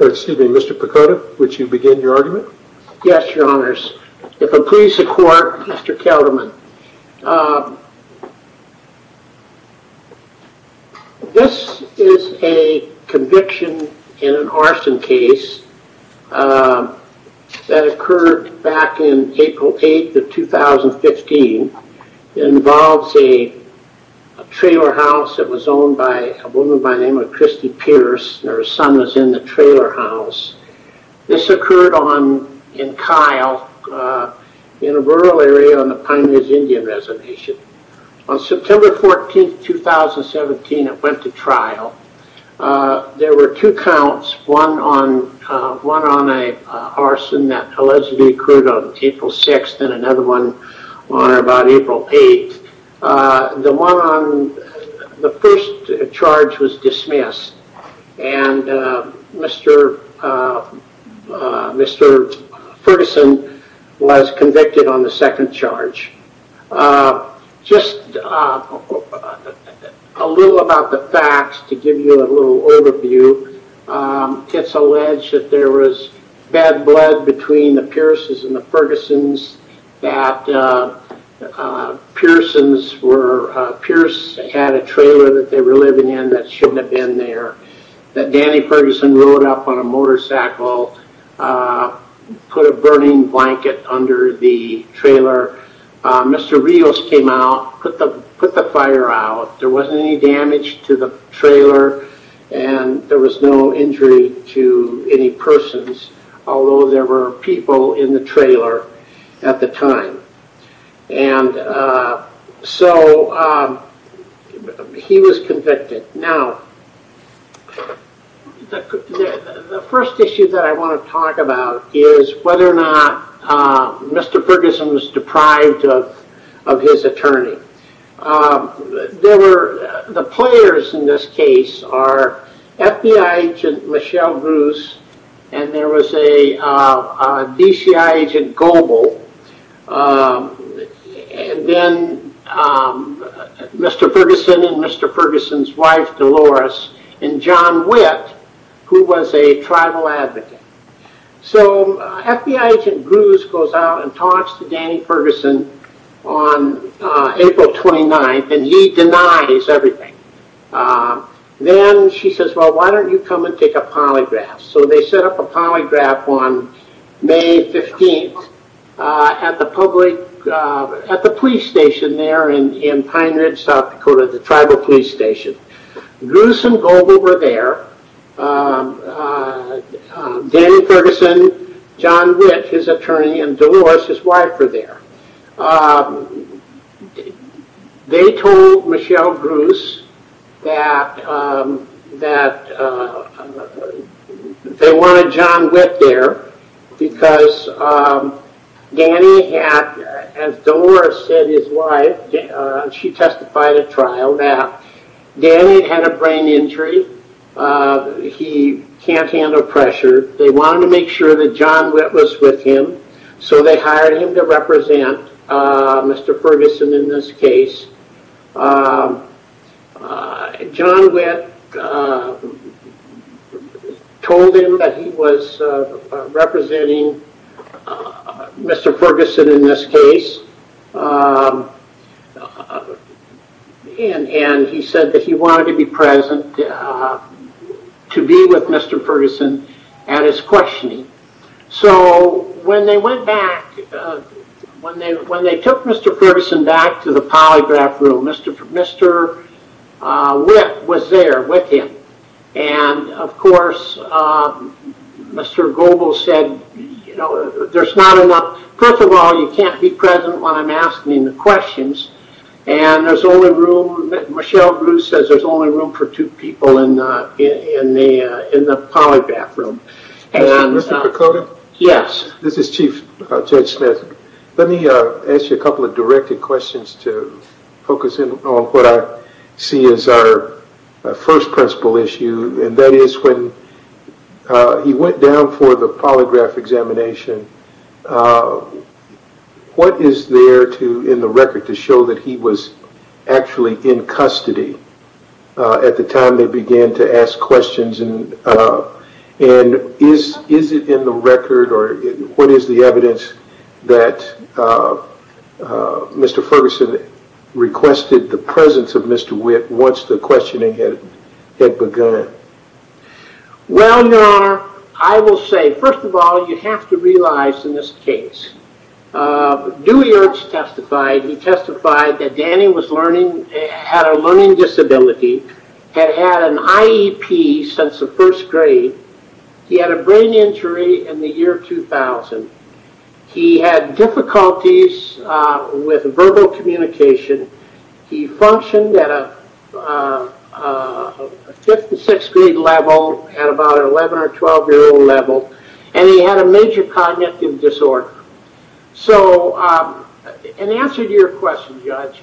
Excuse me, Mr. Picotta, would you begin your argument? Yes, your honors. If I please the court, Mr. Kelderman. This is a conviction in an arson case that occurred back in April 8, 2015. It involves a trailer house that was owned by a woman by the name of Christy Pierce. Her son was in the trailer house. This occurred in Kyle, in a rural area on the Pine Ridge Indian Reservation. On September 14, 2017, it went to trial. There were two counts, one on an arson that allegedly occurred on April 6, and another one on about April 8. The first charge was dismissed, and Mr. Ferguson was convicted on the second charge. Just a little about the facts to give you a little overview. It's alleged that there was bad blood between the Pierce's and the Ferguson's. That Pierce had a trailer that they were living in that shouldn't have been there. That Danny Ferguson rode up on a motorcycle, put a burning blanket under the trailer. Mr. Rios came out, put the fire out. There wasn't any damage to the trailer, and there was no injury to any persons, although there were people in the trailer at the time. He was convicted. Now, the first issue that I want to talk about is whether or not Mr. Ferguson was deprived of his attorney. The players in this case are FBI agent Michelle Bruce, and there was a DCI agent Goebel, and then Mr. Ferguson and Mr. Ferguson's wife, Dolores, and John Witt, who was a tribal advocate. FBI agent Bruce goes out and talks to Danny Ferguson on April 29th, and he denies everything. Then she says, well, why don't you come and take a polygraph? They set up a polygraph on May 15th at the police station there in Pine Ridge, South Dakota, the tribal police station. Bruce and Goebel were there. Danny Ferguson, John Witt, his attorney, and Dolores, his wife, were there. They told Michelle Bruce that they wanted John Witt there because Danny had, as Dolores said, his wife, she testified at trial that Danny had a brain injury. He can't handle pressure. They wanted to make sure that John Witt was with him, so they hired him to represent Mr. Ferguson in this case. John Witt told him that he was representing Mr. Ferguson in this case. He said that he wanted to be present to be with Mr. Ferguson at his questioning. When they took Mr. Ferguson back to the polygraph room, Mr. Witt was there with him. Of course, Mr. Goebel said, there's not enough. First of all, you can't be present when I'm asking the questions. Michelle Bruce says there's only room for two people in the polygraph room. This is Chief Judge Smith. Let me ask you a couple of directed questions to focus in on what I see as our first principal issue. That is, when he went down for the polygraph examination, what is there in the record to show that he was actually in custody at the time they began to ask questions? Is it in the record or what is the evidence that Mr. Ferguson requested the presence of Mr. Witt once the questioning had begun? Well, Your Honor, I will say, first of all, you have to realize in this case, Dewey Ernst testified that Danny had a learning disability, had had an IEP since the first grade. He had a brain injury in the year 2000. He had difficulties with verbal communication. He functioned at a fifth and sixth grade level, at about an 11 or 12 year old level. And he had a major cognitive disorder. So in answer to your question, Judge,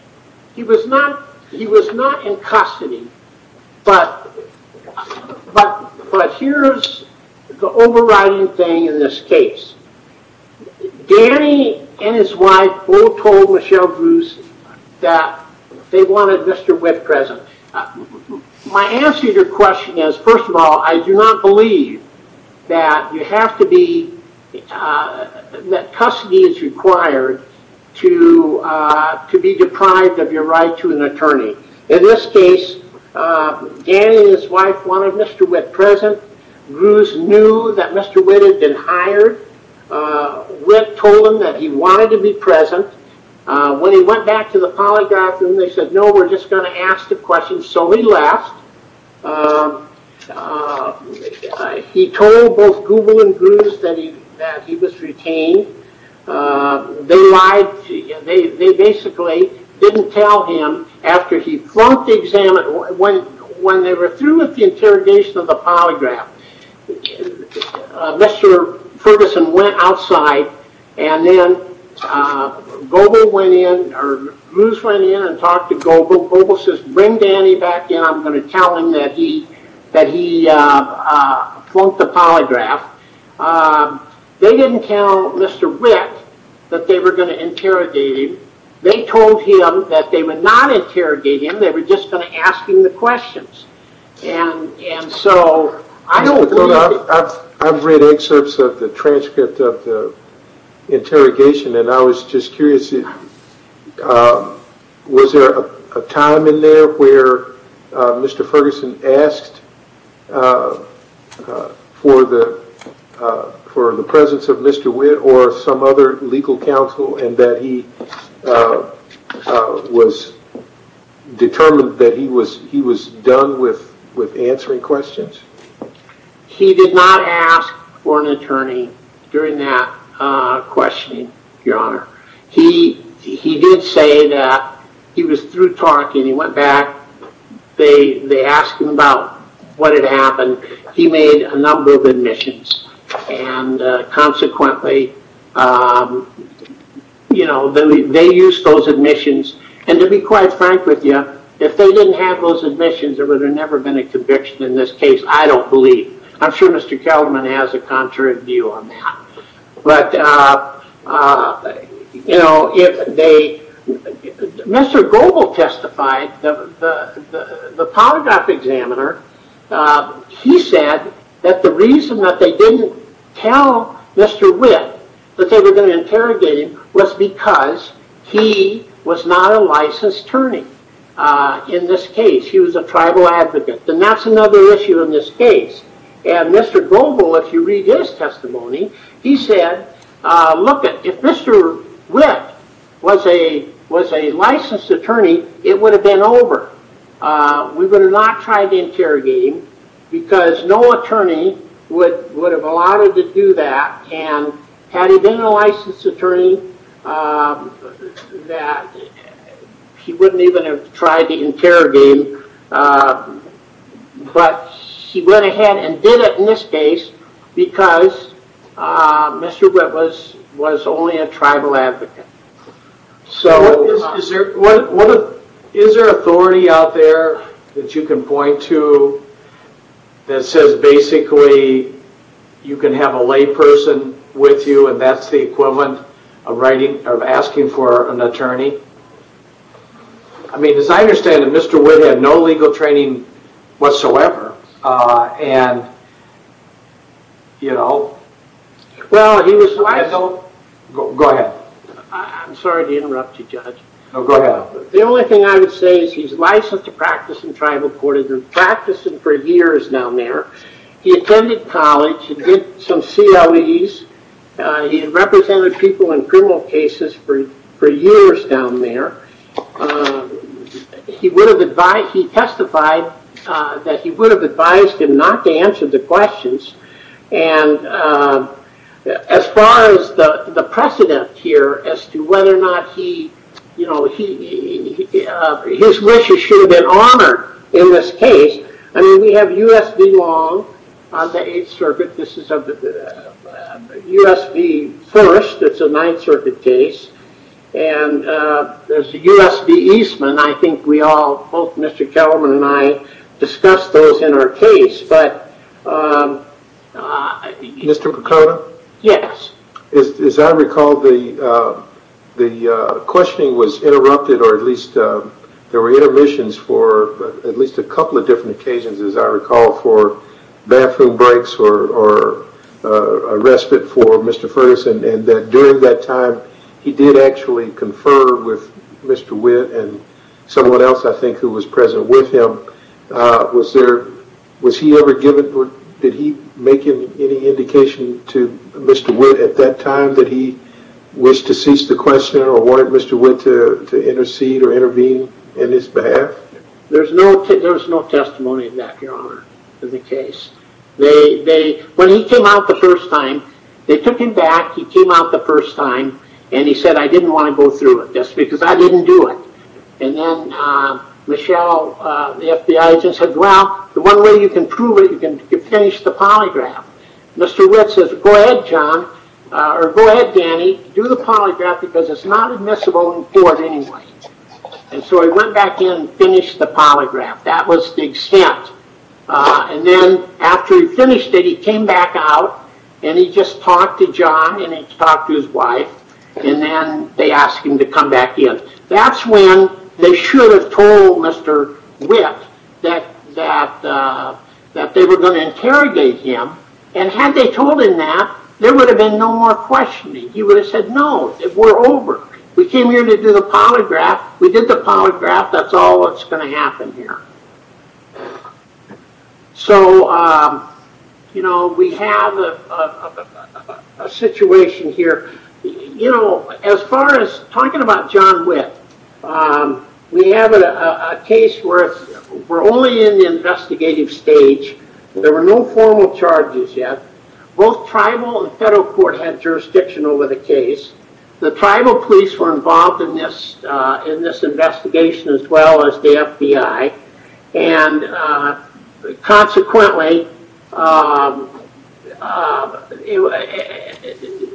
he was not in custody. But here's the overriding thing in this case. Danny and his wife both told Michelle Bruce that they wanted Mr. Witt present. My answer to your question is, first of all, I do not believe that custody is required to be deprived of your right to an attorney. In this case, Danny and his wife wanted Mr. Witt present. Bruce knew that Mr. Witt had been hired. Witt told him that he wanted to be present. When he went back to the polygraph room, they said, no, we're just going to ask the question. So he left. He told both Google and Bruce that he was retained. They basically didn't tell him after he flunked the exam. When they were through with the interrogation of the polygraph, Mr. Ferguson went outside. And then Bruce went in and talked to Google. Google says, bring Danny back in. I'm going to tell him that he flunked the polygraph. They didn't tell Mr. Witt that they were going to interrogate him. They told him that they would not interrogate him. They were just going to ask him the questions. I've read excerpts of the transcript of the interrogation. And I was just curious, was there a time in there where Mr. Ferguson asked for the presence of Mr. Witt or some other legal counsel? And that he was determined that he was done with answering questions? He did not ask for an attorney during that questioning, Your Honor. He did say that he was through talking. He went back. They asked him about what had happened. He made a number of admissions. Consequently, they used those admissions. And to be quite frank with you, if they didn't have those admissions, there would have never been a conviction in this case, I don't believe. I'm sure Mr. Kelderman has a contrary view on that. Mr. Goble testified. The polygraph examiner, he said that the reason that they didn't tell Mr. Witt that they were going to interrogate him was because he was not a licensed attorney in this case. He was a tribal advocate. And that's another issue in this case. And Mr. Goble, if you read his testimony, he said, look, if Mr. Witt was a licensed attorney, it would have been over. We would have not tried to interrogate him because no attorney would have allowed him to do that. And had he been a licensed attorney, he wouldn't even have tried to interrogate him. But he went ahead and did it in this case because Mr. Witt was only a tribal advocate. So is there authority out there that you can point to that says basically you can have a lay person with you and that's the equivalent of asking for an attorney? I mean, as I understand it, Mr. Witt had no legal training whatsoever. Well, he was licensed. Go ahead. I'm sorry to interrupt you, Judge. Go ahead. The only thing I would say is he's licensed to practice in tribal court. He's been practicing for years down there. He attended college. He did some COEs. He represented people in criminal cases for years down there. He testified that he would have advised him not to answer the questions. And as far as the precedent here as to whether or not his wishes should have been honored in this case, I mean, we have U.S. v. Long on the Eighth Circuit. This is a U.S. v. First. It's a Ninth Circuit case. And there's a U.S. v. Eastman. I think we all, both Mr. Kellerman and I, discussed those in our case. Mr. Picardo? Yes. As I recall, the questioning was interrupted, or at least there were intermissions for at least a couple of different occasions, as I recall, for bathroom breaks or a respite for Mr. Ferguson. And during that time, he did actually confer with Mr. Witt and someone else, I think, who was present with him. Was he ever given – did he make any indication to Mr. Witt at that time that he wished to cease the questioning or wanted Mr. Witt to intercede or intervene in his behalf? There's no testimony of that, Your Honor, in the case. When he came out the first time, they took him back. He came out the first time, and he said, I didn't want to go through it just because I didn't do it. And then Michelle, the FBI agent, said, well, the one way you can prove it, you can finish the polygraph. Mr. Witt says, go ahead, John, or go ahead, Danny. Do the polygraph because it's not admissible in court anyway. And so he went back in and finished the polygraph. That was the extent. And then after he finished it, he came back out, and he just talked to John, and he talked to his wife, and then they asked him to come back in. That's when they should have told Mr. Witt that they were going to interrogate him. And had they told him that, there would have been no more questioning. He would have said, no, we're over. We came here to do the polygraph. We did the polygraph. That's all that's going to happen here. So we have a situation here. As far as talking about John Witt, we have a case where we're only in the investigative stage. There were no formal charges yet. Both tribal and federal court had jurisdiction over the case. The tribal police were involved in this investigation as well as the FBI. And consequently,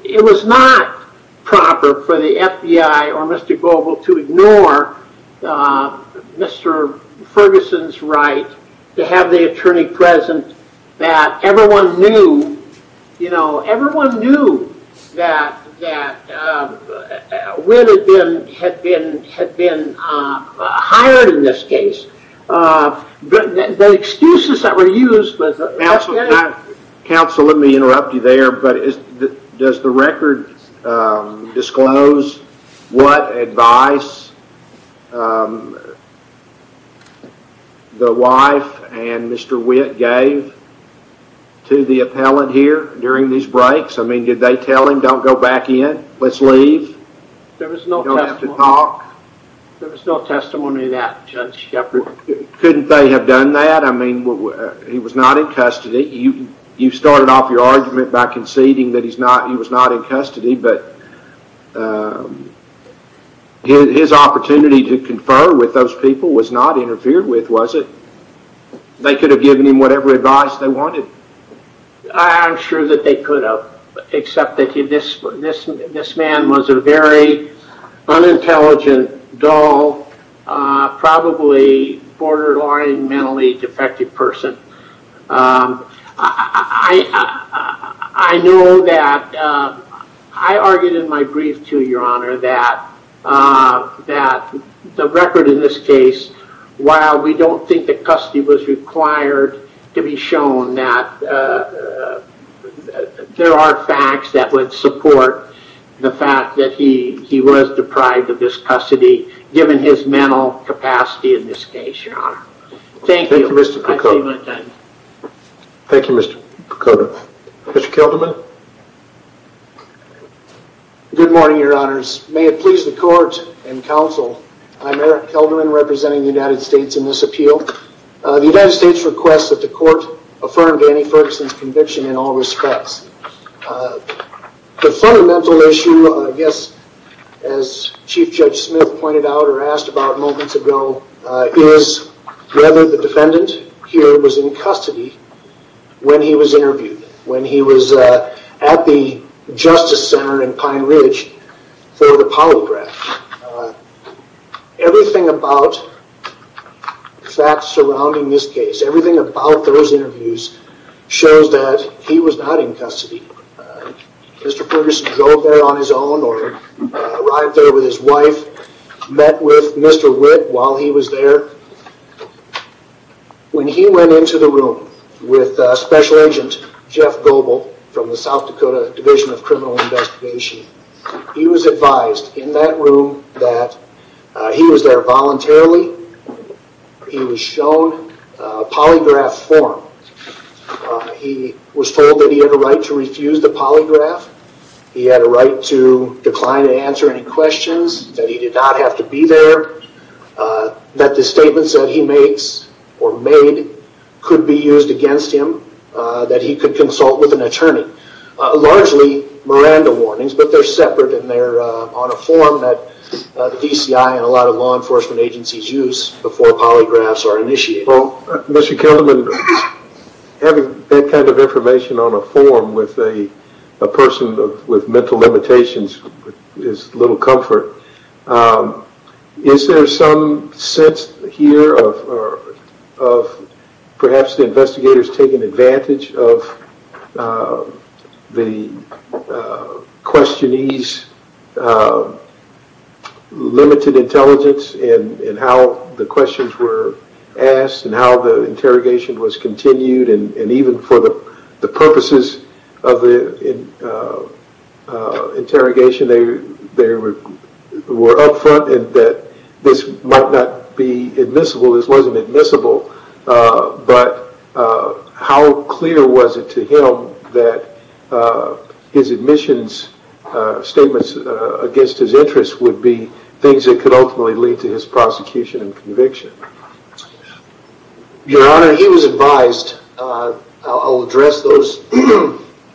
it was not proper for the FBI or Mr. Global to ignore Mr. Ferguson's right to have the attorney present. Everyone knew that Witt had been hired in this case. The excuses that were used were... to the appellant here during these breaks? I mean, did they tell him, don't go back in, let's leave, you don't have to talk? There was no testimony of that, Judge Shepard. Couldn't they have done that? I mean, he was not in custody. You started off your argument by conceding that he was not in custody, but his opportunity to confer with those people was not interfered with, was it? They could have given him whatever advice they wanted. I'm sure that they could have, except that this man was a very unintelligent, dull, probably borderline mentally defective person. I know that I argued in my brief too, Your Honor, that the record in this case, while we don't think that custody was required to be shown, that there are facts that would support the fact that he was deprived of this custody, given his mental capacity in this case, Your Honor. Thank you. Thank you, Mr. Picotto. Thank you, Mr. Picotto. Mr. Kelderman? Good morning, Your Honors. May it please the court and counsel, I'm Eric Kelderman, representing the United States in this appeal. The United States requests that the court affirm Danny Ferguson's conviction in all respects. The fundamental issue, I guess, as Chief Judge Smith pointed out or asked about moments ago, is whether the defendant here was in custody when he was interviewed, when he was at the Justice Center in Pine Ridge for the polygraph. Everything about facts surrounding this case, everything about those interviews, shows that he was not in custody. Mr. Ferguson drove there on his own or arrived there with his wife, met with Mr. Witt while he was there. When he went into the room with Special Agent Jeff Goble from the South Dakota Division of Criminal Investigation, he was advised in that room that he was there voluntarily. He was shown a polygraph form. He was told that he had a right to refuse the polygraph. He had a right to decline to answer any questions, that he did not have to be there, that the statements that he makes or made could be used against him, that he could consult with an attorney. Largely, Miranda warnings, but they're separate and they're on a form that the DCI and a lot of law enforcement agencies use before polygraphs are initiated. Mr. Kilderman, having that kind of information on a form with a person with mental limitations is little comfort. Is there some sense here of perhaps the investigators taking advantage of the questionee's limited intelligence in how the questions were asked and how the interrogation was continued and even for the purposes of the interrogation they were up front and that this might not be admissible, this wasn't admissible, but how clear was it to him that his admissions statements against his interests would be things that could ultimately lead to his prosecution and conviction? Your Honor, he was advised, I'll address those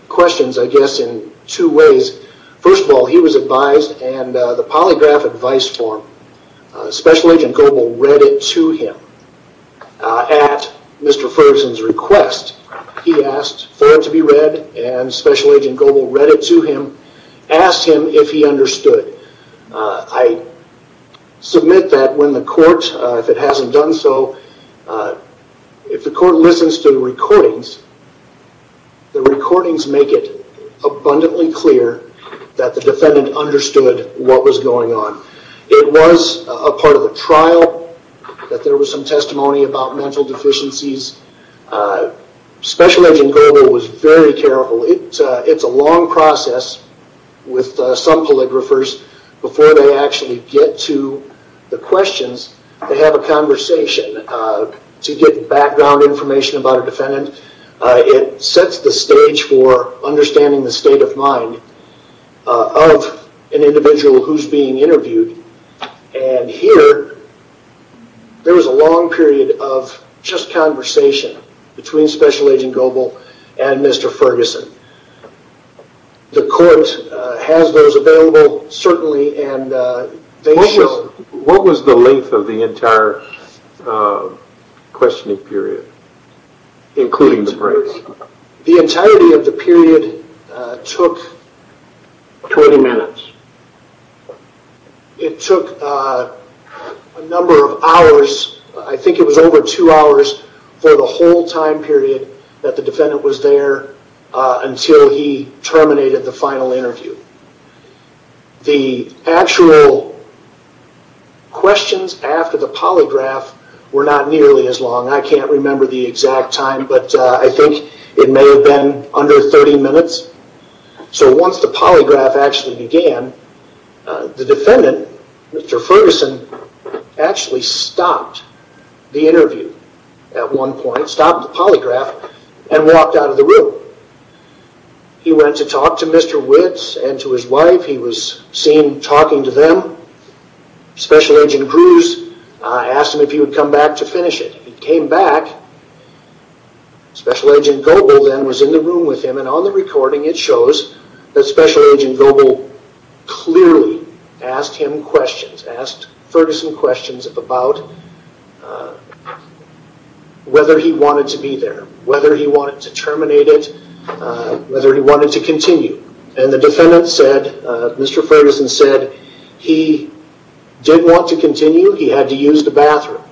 questions I guess in two ways. First of all, he was advised and the polygraph advice form, Special Agent Goble read it to him. At Mr. Ferguson's request, he asked for it to be read and Special Agent Goble read it to him, asked him if he understood. I submit that when the court, if it hasn't done so, if the court listens to the recordings, the recordings make it abundantly clear that the defendant understood what was going on. It was a part of the trial that there was some testimony about mental deficiencies. Special Agent Goble was very careful. It's a long process with some polygraphers before they actually get to the questions to have a conversation, to get background information about a defendant. It sets the stage for understanding the state of mind of an individual who's being interviewed and here, there was a long period of just conversation between Special Agent Goble and Mr. Ferguson. The court has those available, certainly, and they show... What was the length of the entire questioning period, including the breaks? The entirety of the period took... 20 minutes. It took a number of hours. I think it was over two hours for the whole time period that the defendant was there until he terminated the final interview. The actual questions after the polygraph were not nearly as long. I can't remember the exact time, but I think it may have been under 30 minutes. Once the polygraph actually began, the defendant, Mr. Ferguson, actually stopped the interview at one point, stopped the polygraph, and walked out of the room. He went to talk to Mr. Witt and to his wife. He was seen talking to them. Special Agent Cruz asked him if he would come back to finish it. He came back. Special Agent Goble, then, was in the room with him. On the recording, it shows that Special Agent Goble clearly asked him questions, asked Ferguson questions about whether he wanted to be there, whether he wanted to terminate it, whether he wanted to continue. The defendant said, Mr. Ferguson said, he did want to continue. He had to use the bathroom.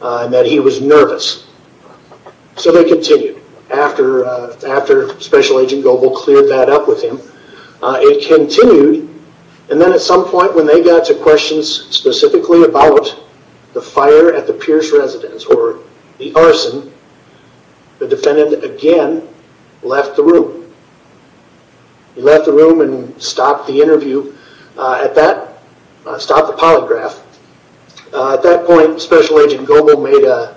That he was nervous. They continued after Special Agent Goble cleared that up with him. It continued. Then, at some point, when they got to questions specifically about the fire at the Pierce residence or the arson, the defendant, again, left the room. He left the room and stopped the interview at that, stopped the polygraph. At that point, Special Agent Goble made a,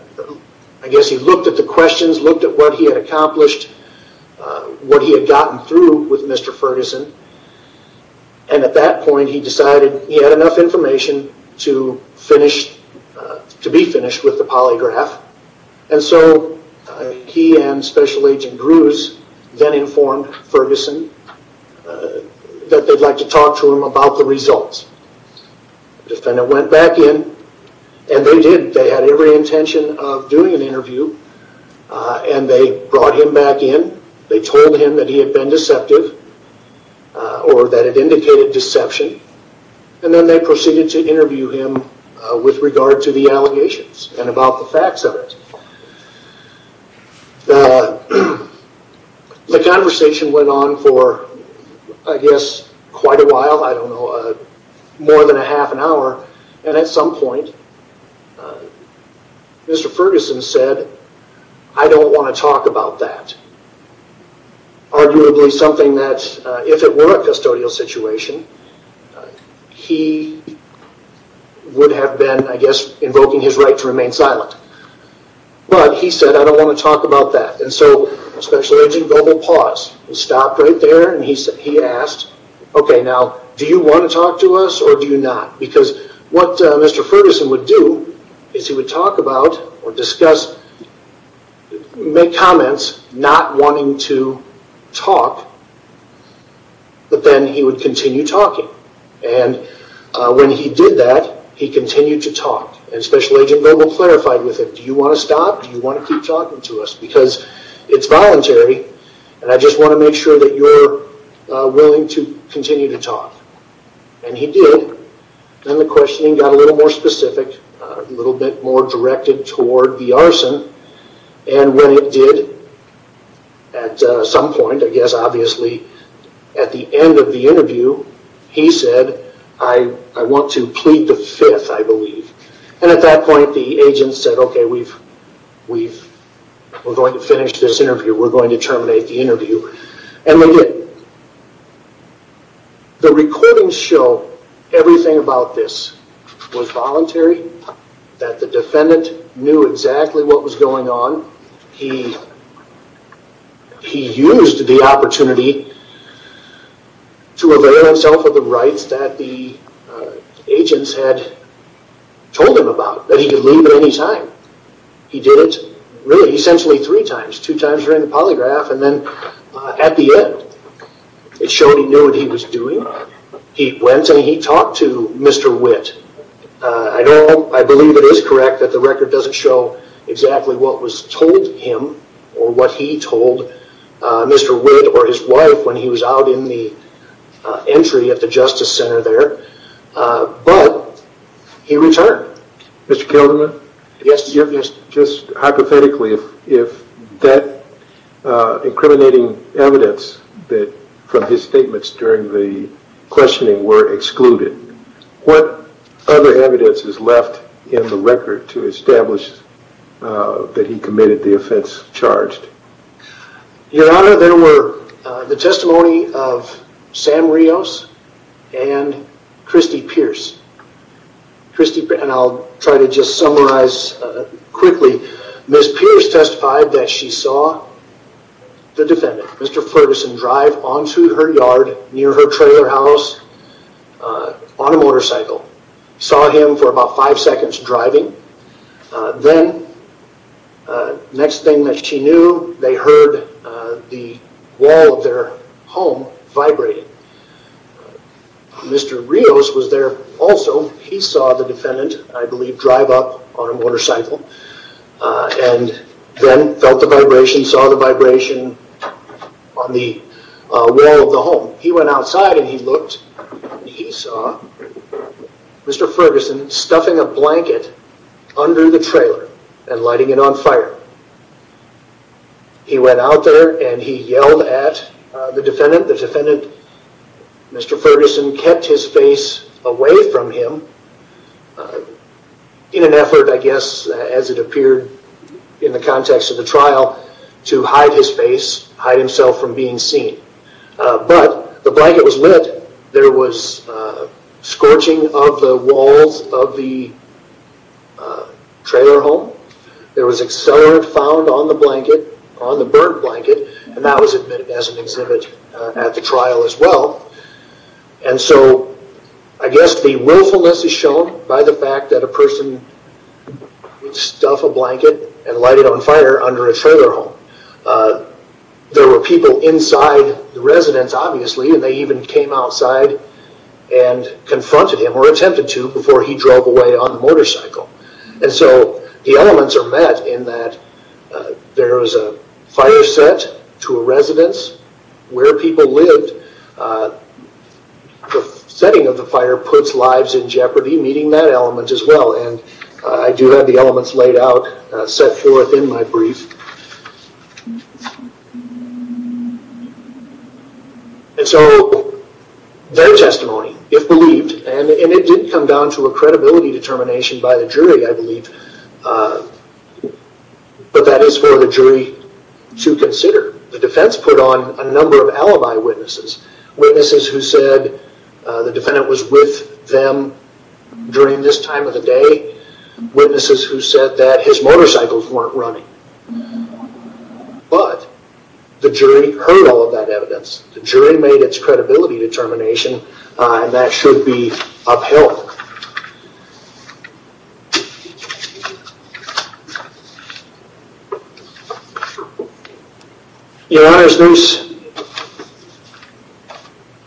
I guess he looked at the questions, looked at what he had accomplished, what he had gotten through with Mr. Ferguson. At that point, he decided he had enough information to be finished with the polygraph. He and Special Agent Cruz then informed Ferguson that they'd like to talk to him about the results. The defendant went back in and they did. They had every intention of doing an interview. They brought him back in. They told him that he had been deceptive or that it indicated deception. Then, they proceeded to interview him with regard to the allegations and about the facts of it. The conversation went on for, I guess, quite a while. I don't know, more than a half an hour. At some point, Mr. Ferguson said, I don't want to talk about that. Arguably, something that, if it were a custodial situation, he would have been, I guess, invoking his right to remain silent. He said, I don't want to talk about that. Special Agent Goble paused and stopped right there. He asked, okay, now, do you want to talk to us or do you not? Because what Mr. Ferguson would do is he would talk about or discuss, make comments not wanting to talk, but then he would continue talking. When he did that, he continued to talk. Special Agent Goble clarified with him, do you want to stop? Do you want to keep talking to us? Because it's voluntary and I just want to make sure that you're willing to continue to talk. He did. Then, the questioning got a little more specific, a little bit more directed toward the arson. When it did, at some point, I guess, obviously, at the end of the interview, he said, I want to plead the fifth, I believe. At that point, the agent said, okay, we're going to finish this interview. We're going to terminate the interview. When he did, the recordings show everything about this was voluntary, that the defendant knew exactly what was going on. He used the opportunity to avail himself of the rights that the agents had told him about, that he could leave at any time. He did it, really, essentially three times, two times during the polygraph, and then at the end, it showed he knew what he was doing. He went and he talked to Mr. Witt. I believe it is correct that the record doesn't show exactly what was told him or what he told Mr. Witt or his wife when he was out in the entry at the Justice Center there, but he returned. Mr. Kilderman? Yes. Just hypothetically, if that incriminating evidence from his statements during the questioning were excluded, what other evidence is left in the record to establish that he committed the offense charged? Your Honor, there were the testimony of Sam Rios and Kristi Pierce. I'll try to just summarize quickly. Ms. Pierce testified that she saw the defendant, Mr. Ferguson, drive onto her yard near her trailer house on a motorcycle. Saw him for about five seconds driving. Then next thing that she knew, they heard the wall of their home vibrating. Mr. Rios was there also. He saw the defendant, I believe, drive up on a motorcycle and then felt the vibration, saw the vibration on the wall of the home. He went outside and he looked and he saw Mr. Ferguson stuffing a blanket under the trailer and lighting it on fire. He went out there and he yelled at the defendant. The defendant, Mr. Ferguson, kept his face away from him in an effort, I guess, as it appeared in the context of the trial to hide his face, hide himself from being seen. But the blanket was lit. There was scorching of the walls of the trailer home. There was accelerant found on the blanket, on the burnt blanket, and that was admitted as an exhibit at the trial as well. I guess the willfulness is shown by the fact that a person would stuff a blanket and light it on fire under a trailer home. There were people inside the residence, obviously, and they even came outside and confronted him or attempted to before he drove away on the motorcycle. The elements are met in that there is a fire set to a residence where people lived. The setting of the fire puts lives in jeopardy, meeting that element as well. I do have the elements laid out, set forth in my brief. Their testimony, if believed, and it did come down to a credibility determination by the jury, I believe, but that is for the jury to consider. The defense put on a number of alibi witnesses, witnesses who said the defendant was with them during this time of the day, witnesses who said that his motorcycles weren't running. But the jury heard all of that evidence. The jury made its credibility determination, and that should be upheld. In other news,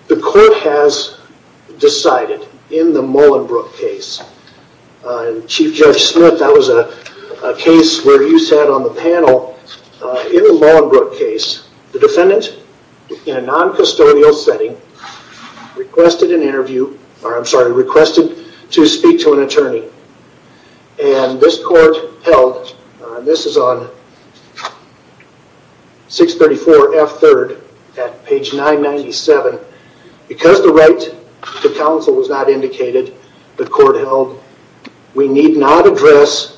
the court has decided in the Mullenbrook case, Chief Judge Smith, that was a case where you sat on the panel. In the Mullenbrook case, the defendant, in a non-custodial setting, requested an interview, or I'm sorry, requested to speak to an attorney. This court held, and this is on 634 F. 3rd at page 997. Because the right to counsel was not indicated, the court held, we need not address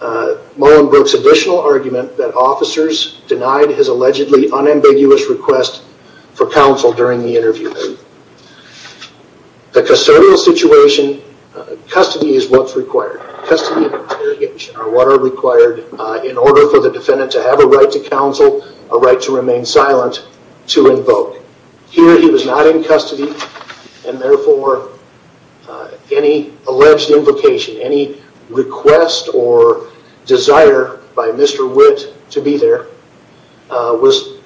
Mullenbrook's additional argument that officers denied his allegedly unambiguous request for counsel during the interview. The custodial situation, custody is what's required. Custody and interrogation are what are required in order for the defendant to have a right to counsel, a right to remain silent to invoke. Here, he was not in custody, and therefore, any alleged invocation, any request or desire by Mr. Witt to be there, was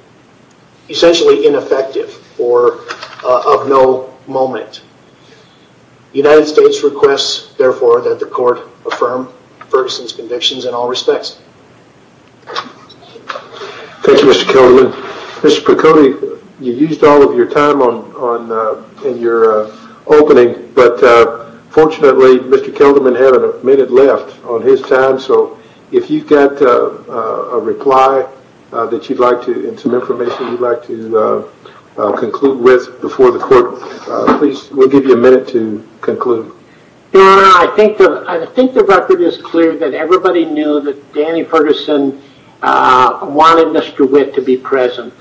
essentially ineffective or of no moment. The United States requests, therefore, that the court affirm Ferguson's convictions in all respects. Thank you, Mr. Kelderman. Mr. Picotti, you used all of your time in your opening, but fortunately, Mr. Kelderman had a minute left on his time, so if you've got a reply that you'd like to, and some information you'd like to conclude with before the court, please, we'll give you a minute to conclude. I think the record is clear that everybody knew that Danny Ferguson wanted Mr. Witt to be present.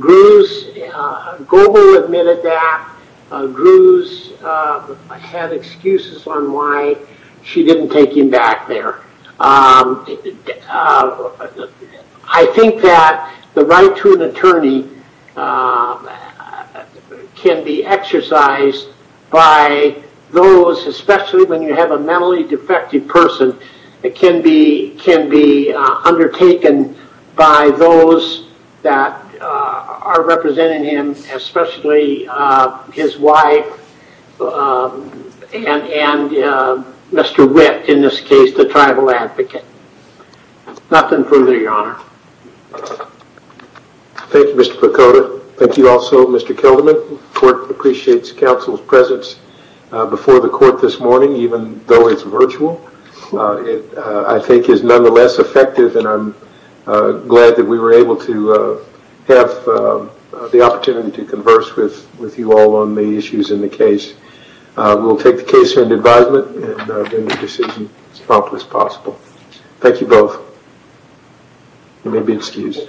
Groves, Goble admitted that Groves had excuses on why she didn't take him back there. I think that the right to an attorney can be exercised by those, especially when you have a mentally defective person, it can be undertaken by those that are representing him, especially his wife and Mr. Witt, in this case, the tribal advocate. Nothing further, Your Honor. Thank you, Mr. Picotti. Thank you also, Mr. Kelderman. The court appreciates counsel's presence before the court this morning, even though it's virtual. It, I think, is nonetheless effective, and I'm glad that we were able to have the opportunity to converse with you all on the issues in the case. We'll take the case under advisement and bring the decision as promptly as possible. Thank you both. You may be excused.